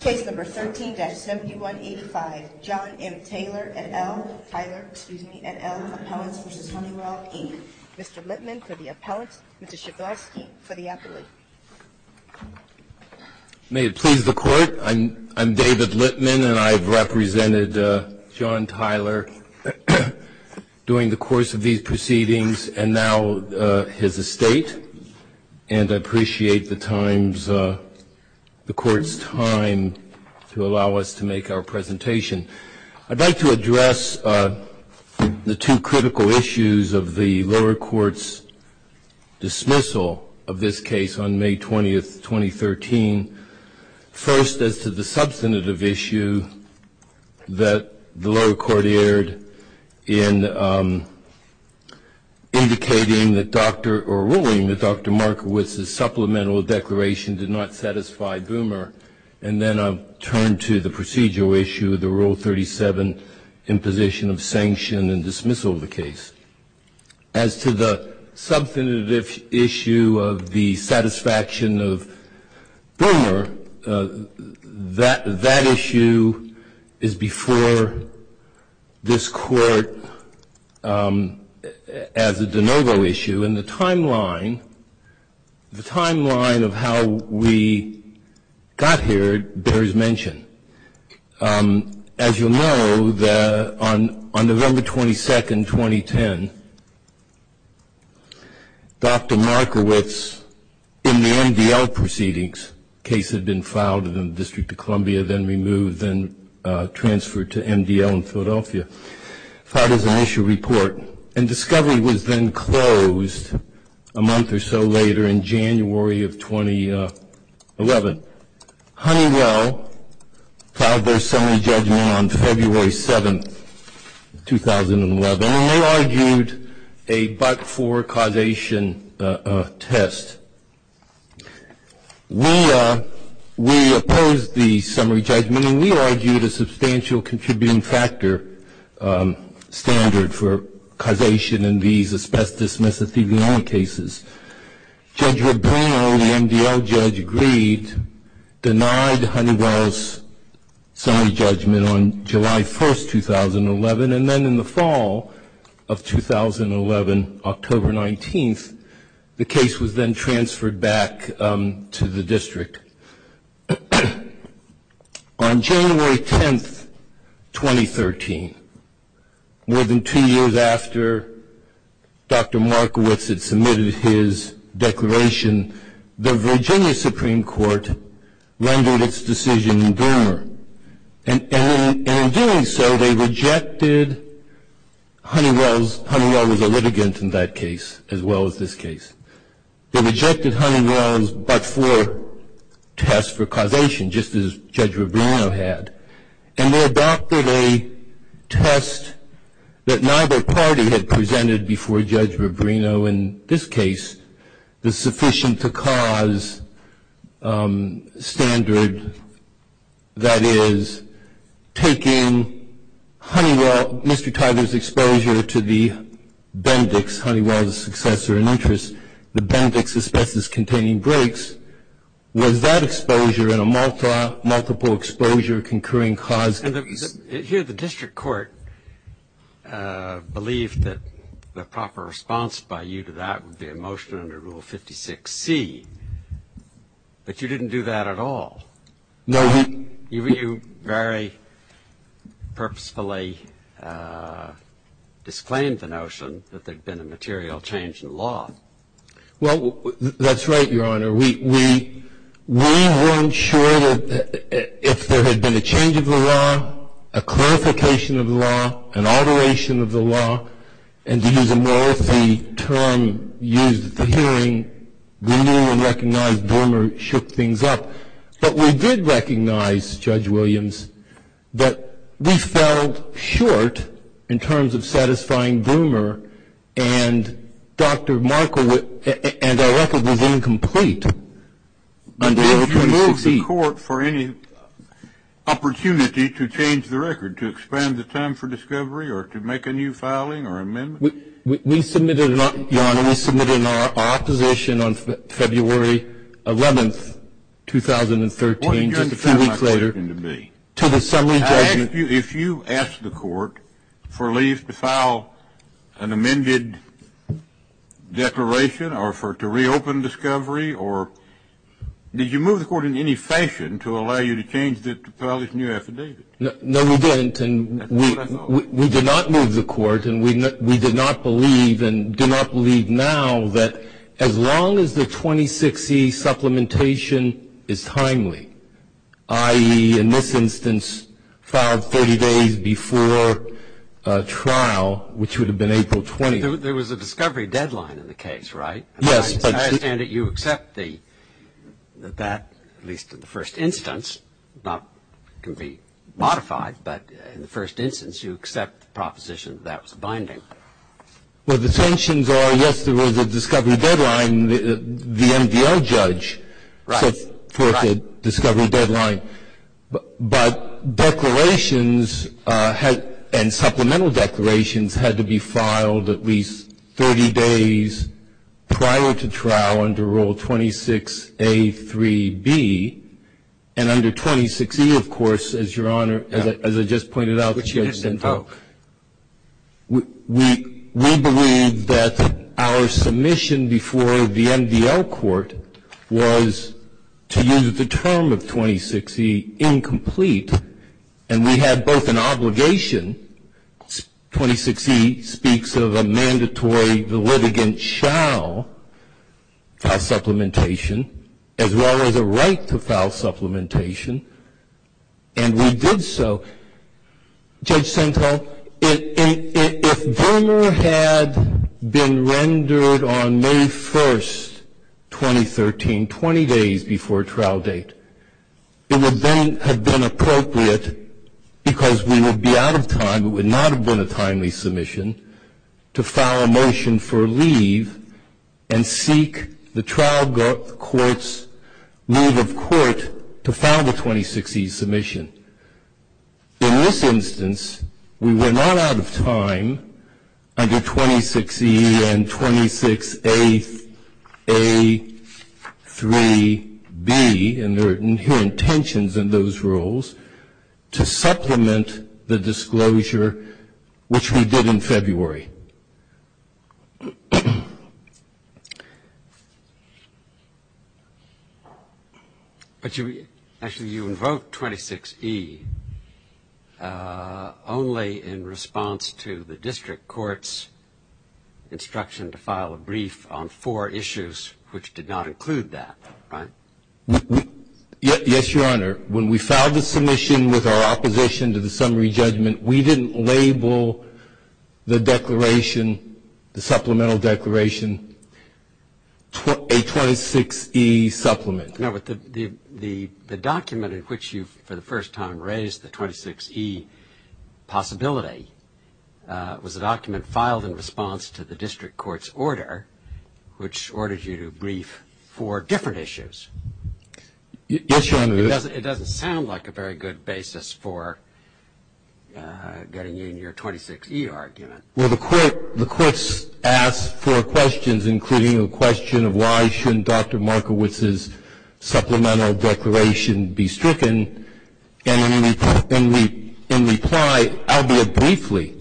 Case No. 13-7185, John M. Taylor et al., Tyler, excuse me, et al., Appellants v. Honeywell, Inc. Mr. Lippman for the appellant, Mr. Shklovsky for the appellate. May it please the Court, I'm David Lippman and I've represented John Tyler during the course of these proceedings and now his estate. And I appreciate the time, the Court's time to allow us to make our presentation. I'd like to address the two critical issues of the lower court's dismissal of this case on May 20th, 2013. First, as to the substantive issue that the lower court aired in indicating that Dr., or ruling that Dr. Markowitz's supplemental declaration did not satisfy Boomer. And then I'll turn to the procedural issue of the Rule 37, imposition of sanction and dismissal of the case. As to the substantive issue of the satisfaction of Boomer, that issue is before this court as a de novo issue. And the timeline, the timeline of how we got here bears mention. As you'll know, on November 22nd, 2010, Dr. Markowitz, in the MDL proceedings, case had been filed in the District of Columbia, then removed, then transferred to MDL in Philadelphia. Filed as an issue report. And discovery was then closed a month or so later in January of 2011. Honeywell filed their summary judgment on February 7th, 2011. And they argued a but-for causation test. We opposed the summary judgment, and we argued a substantial contributing factor, standard for causation in these asbestos mesothelioma cases. Judge Rabino, the MDL judge, agreed, denied Honeywell's summary judgment on July 1st, 2011. And then in the fall of 2011, October 19th, the case was then transferred back to the district. On January 10th, 2013, more than two years after Dr. Markowitz had submitted his declaration, And in doing so, they rejected Honeywell's, Honeywell was a litigant in that case, as well as this case. They rejected Honeywell's but-for test for causation, just as Judge Rabino had. And they adopted a test that neither party had presented before Judge Rabino, in this case, the sufficient to cause standard that is taking Honeywell, Mr. Tiger's exposure to the Bendix, Honeywell's successor in interest, the Bendix asbestos-containing breaks. Was that exposure in a multiple exposure concurring cause? And here the district court believed that the proper response by you to that would be a motion under Rule 56C, but you didn't do that at all. You very purposefully disclaimed the notion that there'd been a material change in the law. Well, that's right, Your Honor. We weren't sure that if there had been a change of the law, a clarification of the law, an alteration of the law, and we didn't know if the term used at the hearing, we knew and recognized Boomer shook things up. But we did recognize, Judge Williams, that we fell short in terms of satisfying Boomer, and Dr. Markle, and our record was incomplete under Rule 56C. But did you move the court for any opportunity to change the record, to expand the time for discovery, or to make a new filing, or amendment? We submitted, Your Honor, we submitted in our opposition on February 11th, 2013, just a few weeks later, to the summary judgment. I ask you, if you asked the court for leaves to file an amended declaration, or for it to reopen discovery, or did you move the court in any fashion to allow you to change the college new affidavit? No, we didn't. And we did not move the court, and we did not believe, and do not believe now, that as long as the 2060 supplementation is timely, i.e., in this instance, filed 30 days before trial, which would have been April 20th. There was a discovery deadline in the case, right? Yes, but the- I understand that you accept that that, at least in the first instance, not to be modified, but in the first instance, you accept the proposition that that was binding. Well, the tensions are, yes, there was a discovery deadline. The MDL judge set forth a discovery deadline, but declarations had, and supplemental declarations, had to be filed at least 30 days prior to trial under Rule 26A3B, and under 2060, of course, as Your Honor, as I just pointed out, we believe that our submission before the MDL court was, to use the term of 2060, incomplete, and we had both an obligation, 2060 speaks of a mandatory litigant shall file supplementation, as well as a right to file supplementation, and we did so. Judge Sento, if Verner had been rendered on May 1st, 2013, 20 days before trial date, it would then have been appropriate, because we would be out of time, it would not have been a timely submission, to file a motion for leave and seek the trial court's move of court to file the 2060 submission. In this instance, we were not out of time under 2060 and we used Rule 26A3B, and there are inherent tensions in those rules, to supplement the disclosure which we did in February. But you, actually, you invoked 26E only in response to the district court's instruction to file a brief on four issues, which did not include that, right? Yes, your honor. When we filed the submission with our opposition to the summary judgment, we didn't label the declaration, the supplemental declaration, a 26E supplement. No, but the document in which you, for the first time, raised the 26E possibility was a document filed in response to the district court's order, which ordered you to brief four different issues. Yes, your honor. It doesn't sound like a very good basis for getting you in your 26E argument. Well, the court's asked four questions, including a question of why shouldn't Dr. Markowitz's supplemental declaration be stricken? And in reply, albeit briefly,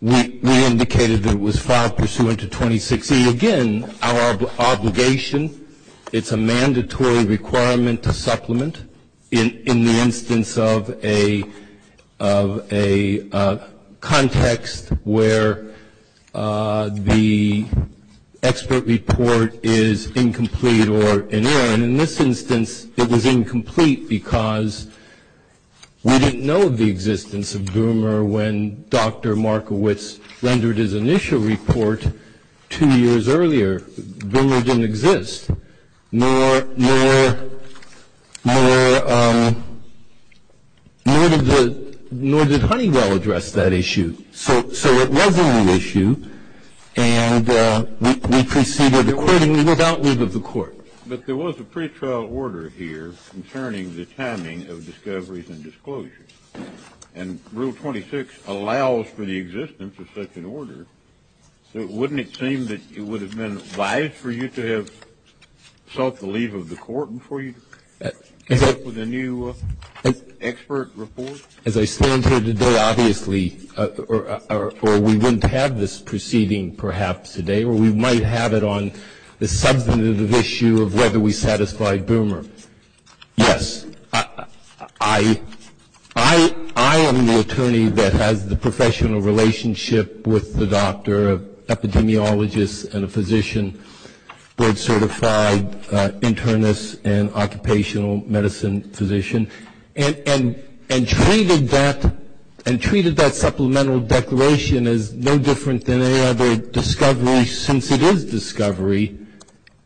we indicated that it was filed pursuant to 26E. Again, our obligation, it's a mandatory requirement to supplement in the instance of a context where the expert report is incomplete or inerrant. And in this instance, it was incomplete because we didn't know the existence of Boomer when Dr. Markowitz rendered his initial report two years earlier. Boomer didn't exist. Nor did Honeywell address that issue. So it wasn't an issue, and we proceeded according without leave of the court. But there was a pretrial order here concerning the timing of discoveries and disclosures. And Rule 26 allows for the existence of such an order. So wouldn't it seem that it would have been wise for you to have sought the leave of the court before you came up with a new expert report? As I stand here today, obviously, or we wouldn't have this proceeding, perhaps, today, or we might have it on the substantive issue of whether we satisfied Boomer. Yes, I am the attorney that has the professional relationship with the doctor, an epidemiologist, and a physician, board-certified internist and occupational medicine physician, and treated that supplemental declaration as no different than any other discovery, since it is discovery.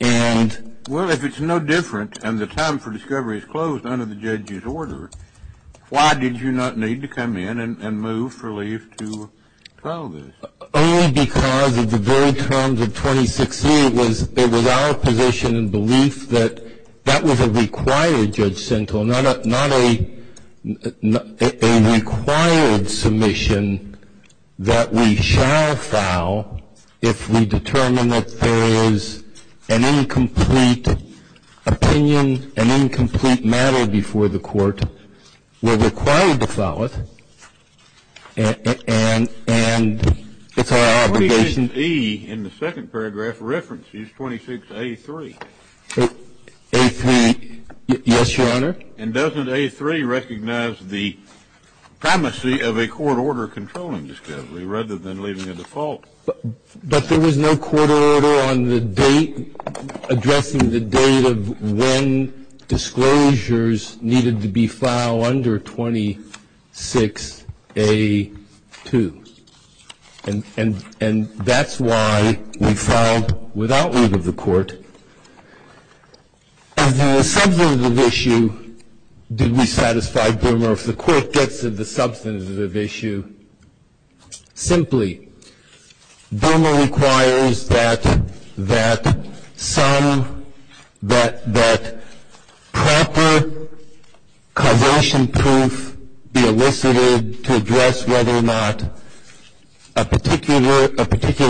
And- Well, if it's no different, and the time for discovery is closed under the judge's order, why did you not need to come in and move for leave to file this? Only because of the very terms of 26E, it was our position and belief that that was a required, Judge Cento, not a required submission that we shall file if we determine that there is an incomplete opinion, an incomplete matter before the court, we're required to file it. And it's our obligation- 26E in the second paragraph references 26A3. 26A3, yes, Your Honor? And doesn't A3 recognize the primacy of a court order controlling discovery rather than leaving a default? But there was no court order on the date, addressing the date of when disclosures needed to be filed under 26A2. And that's why we filed without leave of the court. If there was substantive issue, did we satisfy Burma? If the court gets to the substantive issue, simply, Burma requires that some, that proper causation proof be elicited to address whether or not a particular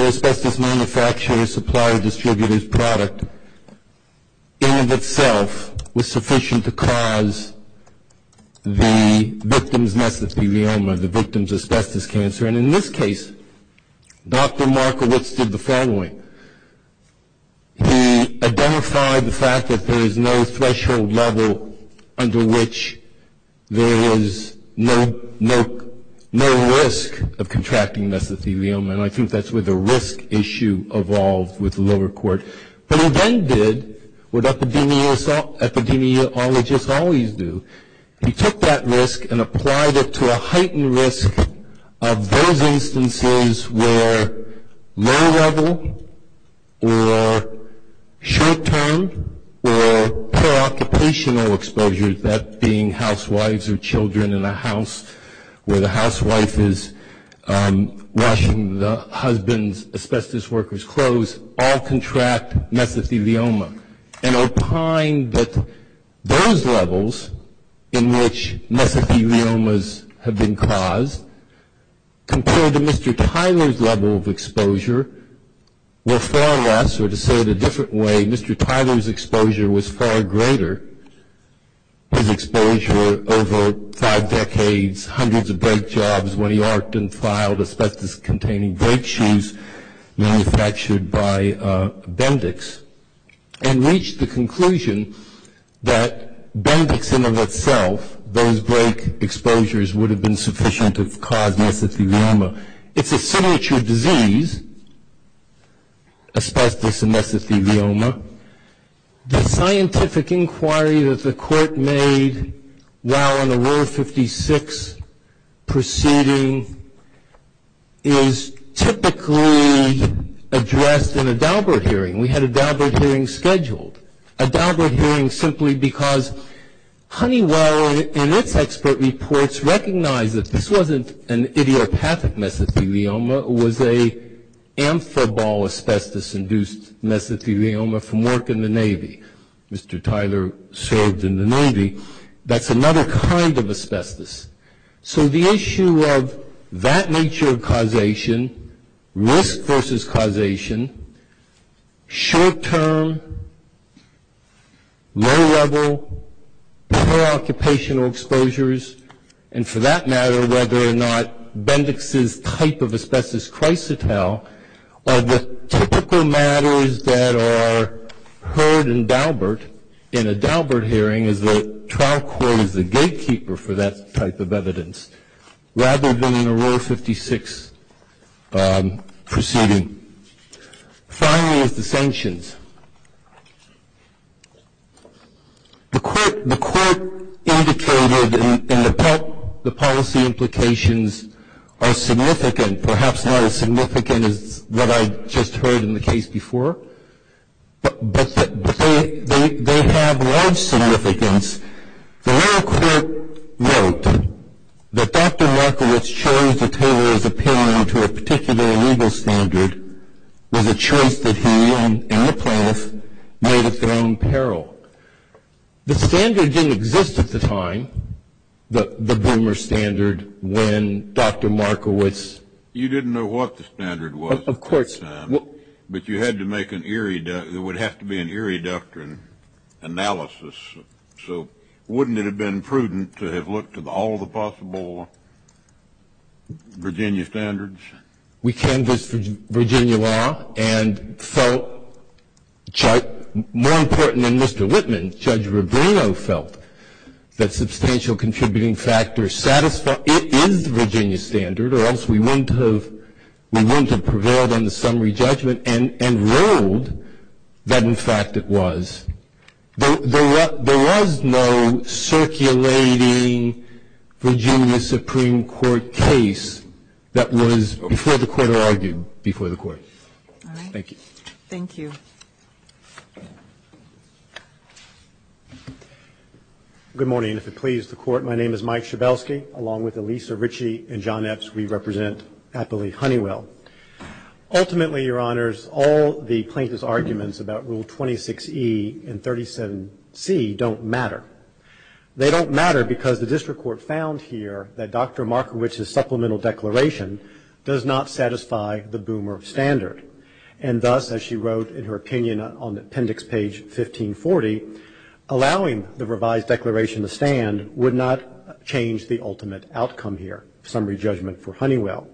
asbestos manufacturer, supplier, distributor's product, in and of itself, was sufficient to cause the victim's mesothelioma, the victim's asbestos cancer. And in this case, Dr. Markowitz did the following. He identified the fact that there is no threshold level under which there is no risk of contracting mesothelioma. And I think that's where the risk issue evolved with the lower court. But he then did what epidemiologists always do. He took that risk and applied it to a heightened risk of those instances where low-level or short-term or pre-occupational exposures, that being housewives or children in a house where the housewife is washing the husband's asbestos worker's clothes, all contract mesothelioma. And opined that those levels in which mesotheliomas have been caused compared to Mr. Tyler's level of exposure were far less, or to say it a different way, Mr. Tyler's exposure was far greater. His exposure over five decades, hundreds of break jobs when he arced and filed asbestos-containing break shoes manufactured by Bendix. And reached the conclusion that Bendix in and of itself, those break exposures would have been sufficient to cause mesothelioma. It's a similar to a disease, asbestos and mesothelioma. The scientific inquiry that the court made while on the Rule 56 proceeding is typically addressed in a Daubert hearing. We had a Daubert hearing scheduled. A Daubert hearing simply because Honeywell and an idiopathic mesothelioma was a amphibole asbestos-induced mesothelioma from work in the Navy. Mr. Tyler served in the Navy. That's another kind of asbestos. So the issue of that nature of causation, risk versus causation, short term, low level, poor occupational exposures, and for that matter, whether or not Bendix's type of asbestos chrysotile are the typical matters that are heard in Daubert. In a Daubert hearing, is that trial court is the gatekeeper for that type of evidence, rather than in a Rule 56 proceeding. Finally, is the sanctions. The court indicated, and the policy implications are significant. Perhaps not as significant as what I just heard in the case before. But they have large significance. The lower court wrote that Dr. Markowitz chose the Taylor's opinion to a particular legal standard. It was a choice that he and the class made at their own peril. The standard didn't exist at the time, the Boomer standard, when Dr. Markowitz. You didn't know what the standard was at that time. Of course. But you had to make an, it would have to be an irreductant analysis. So wouldn't it have been prudent to have looked at all the possible Virginia standards? We can this Virginia law and felt, more important than Mr. Whitman, Judge Rubino felt that substantial contributing factors satisfy, it is the Virginia standard or else we wouldn't have prevailed on the summary judgment and ruled that in fact it was. There was no circulating Virginia Supreme Court case that was before the court or argued before the court. Thank you. Thank you. Good morning. If it pleases the Court, my name is Mike Shabelsky, along with Elisa Ritchie and John Epps. We represent happily Honeywell. Ultimately, Your Honors, all the plaintiff's arguments about Rule 26E and 37C don't matter. They don't matter because the district court found here that Dr. Markowitz's supplemental declaration does not satisfy the Boomer standard and thus, as she wrote in her opinion on appendix page 1540, allowing the revised declaration to stand would not change the ultimate outcome here, summary judgment for Honeywell.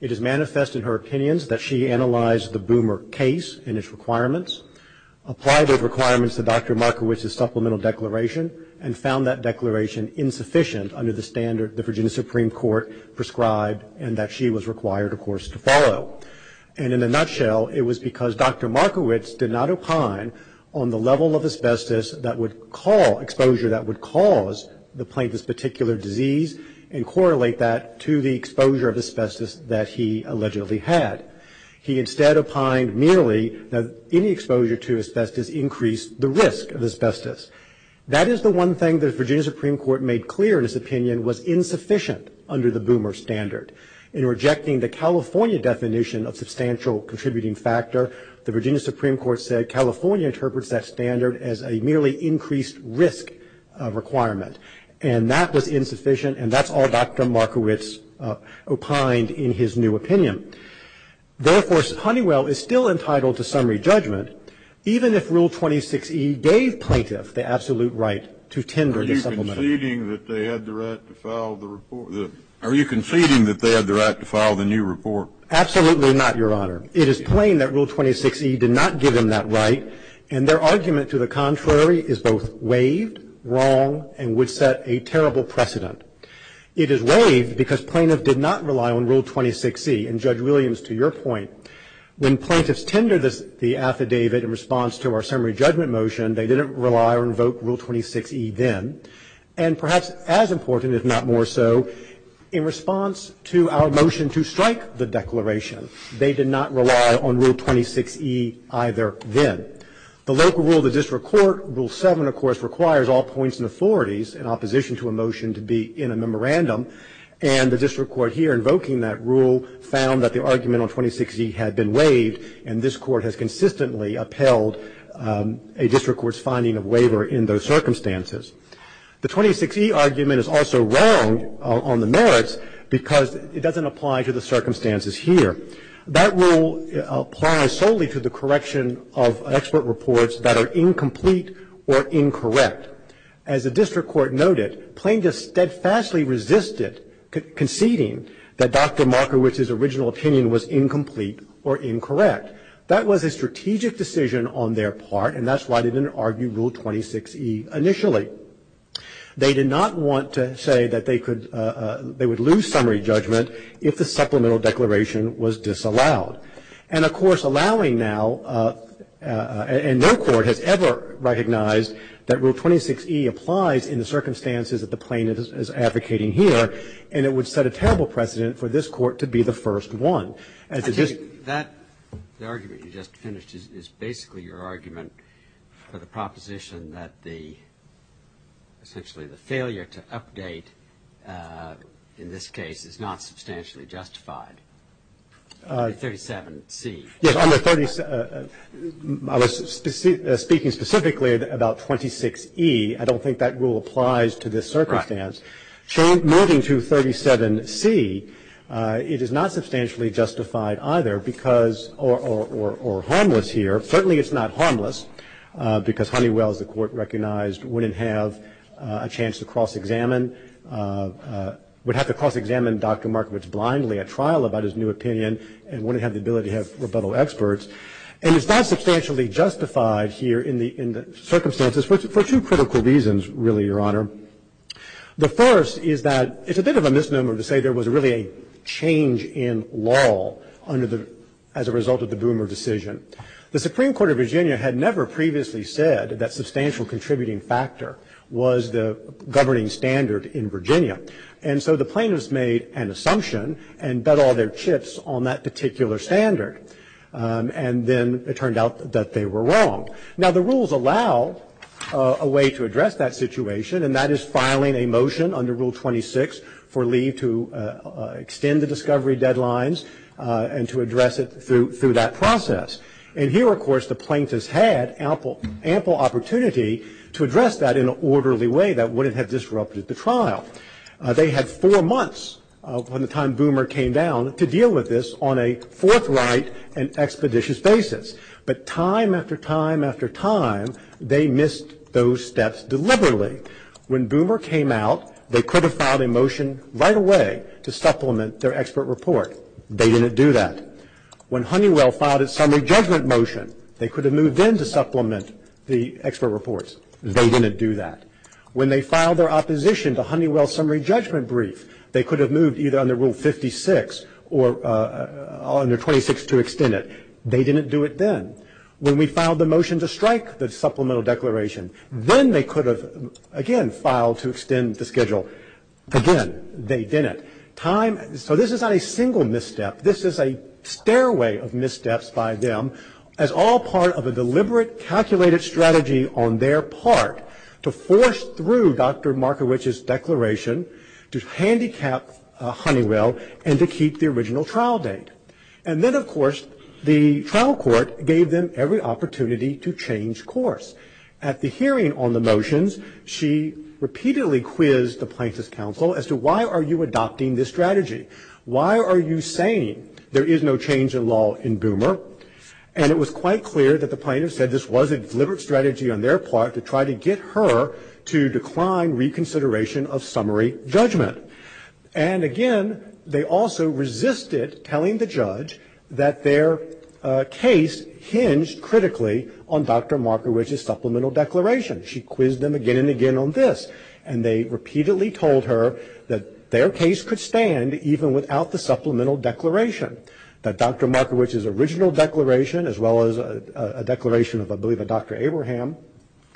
It is manifest in her opinions that she analyzed the Boomer case and its requirements, applied those requirements to Dr. Markowitz's supplemental declaration, and found that declaration insufficient under the standard the Virginia Supreme Court prescribed and that she was required, of course, to follow. And in a nutshell, it was because Dr. Markowitz did not opine on the level of asbestos that would call exposure that would cause the plaintiff's particular disease and correlate that to the exposure of asbestos that he allegedly had. He instead opined merely that any exposure to asbestos increased the risk of asbestos. That is the one thing the Virginia Supreme Court made clear in its opinion was insufficient under the Boomer standard. In rejecting the California definition of substantial contributing factor, the Virginia Supreme Court said California interprets that standard as a merely increased risk requirement. And that was insufficient, and that's all Dr. Markowitz opined in his new opinion. Therefore, Honeywell is still entitled to summary judgment even if Rule 26e gave plaintiff the absolute right to tender the supplemental. Scalia. Are you conceding that they had the right to file the report? Are you conceding that they had the right to file the new report? Absolutely not, Your Honor. It is plain that Rule 26e did not give him that right, and their argument to the contrary is both waived, wrong, and would set a terrible precedent. It is waived because plaintiff did not rely on Rule 26e. And, Judge Williams, to your point, when plaintiffs tendered the affidavit in response to our summary judgment motion, they didn't rely on Vote Rule 26e then. And perhaps as important, if not more so, in response to our motion to strike the declaration, they did not rely on Rule 26e either then. The local rule of the district court, Rule 7, of course, requires all points and authorities in opposition to a motion to be in a memorandum, and the district court here invoking that rule found that the argument on 26e had been waived, and this Court has consistently upheld a district court's finding of waiver in those circumstances. The 26e argument is also wrong on the merits because it doesn't apply to the circumstances here. That rule applies solely to the correction of expert reports that are incomplete or incorrect. As the district court noted, plaintiffs steadfastly resisted conceding that Dr. Markowitz's original opinion was incomplete or incorrect. That was a strategic decision on their part, and that's why they didn't argue Rule 26e initially. They did not want to say that they could they would lose summary judgment if the supplemental declaration was disallowed. And of course, allowing now, and no court has ever recognized that Rule 26e applies in the circumstances that the plaintiff is advocating here, and it would set a terrible precedent for this Court to be the first one. That argument you just finished is basically your argument for the proposition that the, essentially the failure to update in this case is not substantially justified. The 37c. Yes, on the 37, I was speaking specifically about 26e. I don't think that rule applies to this circumstance. Right. Moving to 37c, it is not substantially justified either, because, or harmless here, certainly it's not harmless, because Honeywell, as the Court recognized, wouldn't have a chance to cross-examine, would have to cross-examine Dr. Markowitz blindly at trial about his new opinion, and wouldn't have the ability to have rebuttal experts. And it's not substantially justified here in the circumstances for two critical reasons, really, Your Honor. The first is that it's a bit of a misnomer to say there was really a change in law under the, as a result of the Boomer decision. The Supreme Court of Virginia had never previously said that substantial contributing factor was the governing standard in Virginia. And so the plaintiffs made an assumption and bet all their chips on that particular standard, and then it turned out that they were wrong. Now, the rules allow a way to address that situation, and that is filing a motion under Rule 26 for leave to extend the discovery deadlines and to address it through that process. And here, of course, the plaintiffs had ample opportunity to address that in an expeditious way, which disrupted the trial. They had four months from the time Boomer came down to deal with this on a forthright and expeditious basis. But time after time after time, they missed those steps deliberately. When Boomer came out, they could have filed a motion right away to supplement their expert report. They didn't do that. When Honeywell filed its summary judgment motion, they could have moved in to supplement the expert reports. They didn't do that. When they filed their opposition to Honeywell's summary judgment brief, they could have moved either under Rule 56 or under 26 to extend it. They didn't do it then. When we filed the motion to strike the supplemental declaration, then they could have, again, filed to extend the schedule. Again, they didn't. Time, so this is not a single misstep. This is a stairway of missteps by them as all part of a deliberate, calculated strategy on their part to force through Dr. Markowitz's declaration to handicap Honeywell and to keep the original trial date. And then, of course, the trial court gave them every opportunity to change course. At the hearing on the motions, she repeatedly quizzed the plaintiff's counsel as to why are you adopting this strategy? Why are you saying there is no change in law in Boomer? And it was quite clear that the plaintiff said this was a deliberate strategy on their part to try to get her to decline reconsideration of summary judgment. And again, they also resisted telling the judge that their case hinged critically on Dr. Markowitz's supplemental declaration. She quizzed them again and again on this. And they repeatedly told her that their case could stand even without the supplemental declaration, that Dr. Markowitz's original declaration as well as a declaration of, I believe, a Dr. Abraham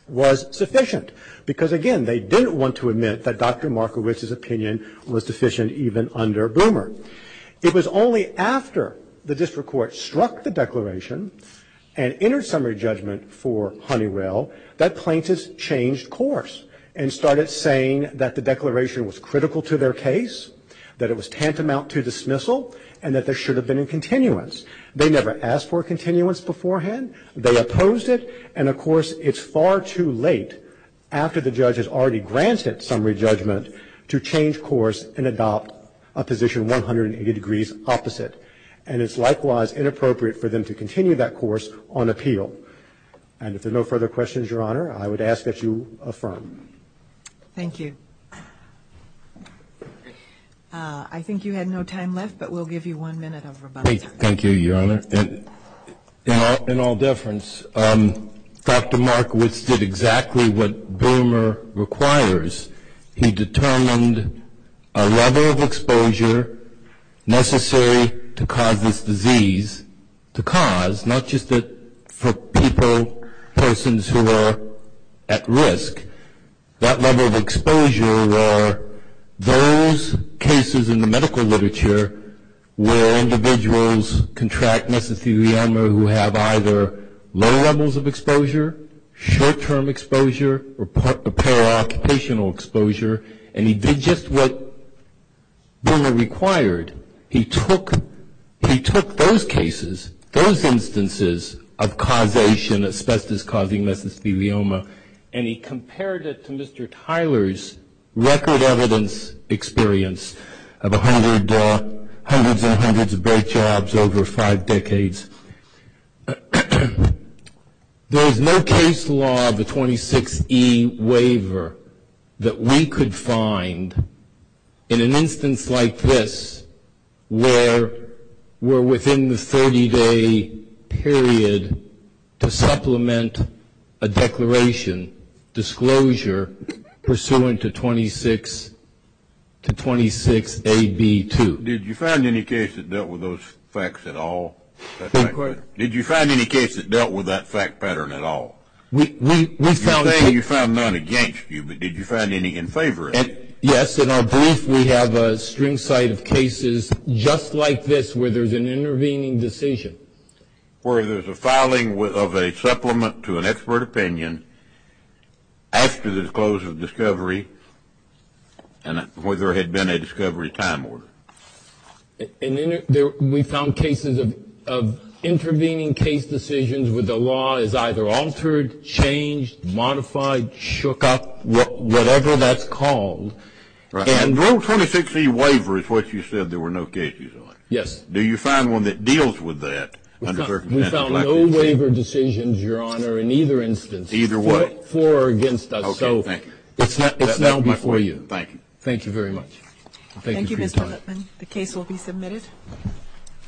was sufficient. Because again, they didn't want to admit that Dr. Markowitz's opinion was deficient even under Boomer. It was only after the district court struck the declaration and entered summary judgment for Honeywell that plaintiffs changed course and started saying that the They never asked for a continuance beforehand. They opposed it. And of course, it's far too late after the judge has already granted summary judgment to change course and adopt a position 180 degrees opposite. And it's likewise inappropriate for them to continue that course on appeal. And if there are no further questions, Your Honor, I would ask that you affirm. Thank you. I think you had no time left, but we'll give you one minute of rebuttal. Thank you, Your Honor. In all deference, Dr. Markowitz did exactly what Boomer requires. He determined a level of exposure necessary to cause this disease to cause, not just for people, persons who are at risk. That level of exposure were those cases in the medical literature where individuals contract mesothelioma who have either low levels of exposure, short-term exposure, or paro-occupational exposure. And he did just what Boomer required. He took those cases, those instances of causation, asbestos-causing mesothelioma, and he compared it to Mr. Tyler's record evidence experience of a hundred, hundreds and hundreds of great jobs over five decades. There is no case law of the 26E waiver that we could find in an instance like this where we're within the 30 day period to supplement a declaration disclosure pursuant to 26AB2. Did you find any case that dealt with those facts at all? Big question. Did you find any case that dealt with that fact pattern at all? We found- You say you found none against you, but did you find any in favor of it? Yes, in our brief we have a string site of cases just like this where there's an intervening decision. Where there's a filing of a supplement to an expert opinion after the disclosure of discovery, and where there had been a discovery time order. And we found cases of intervening case decisions where the law is either altered, changed, modified, shook up, whatever that's called. And rule 26E waiver is what you said there were no cases on. Yes. Do you find one that deals with that under circumstances like this? We found no waiver decisions, Your Honor, in either instance. Either what? For or against us. Okay, thank you. It's now before you. Thank you. Thank you very much. Thank you for your time. The case will be submitted.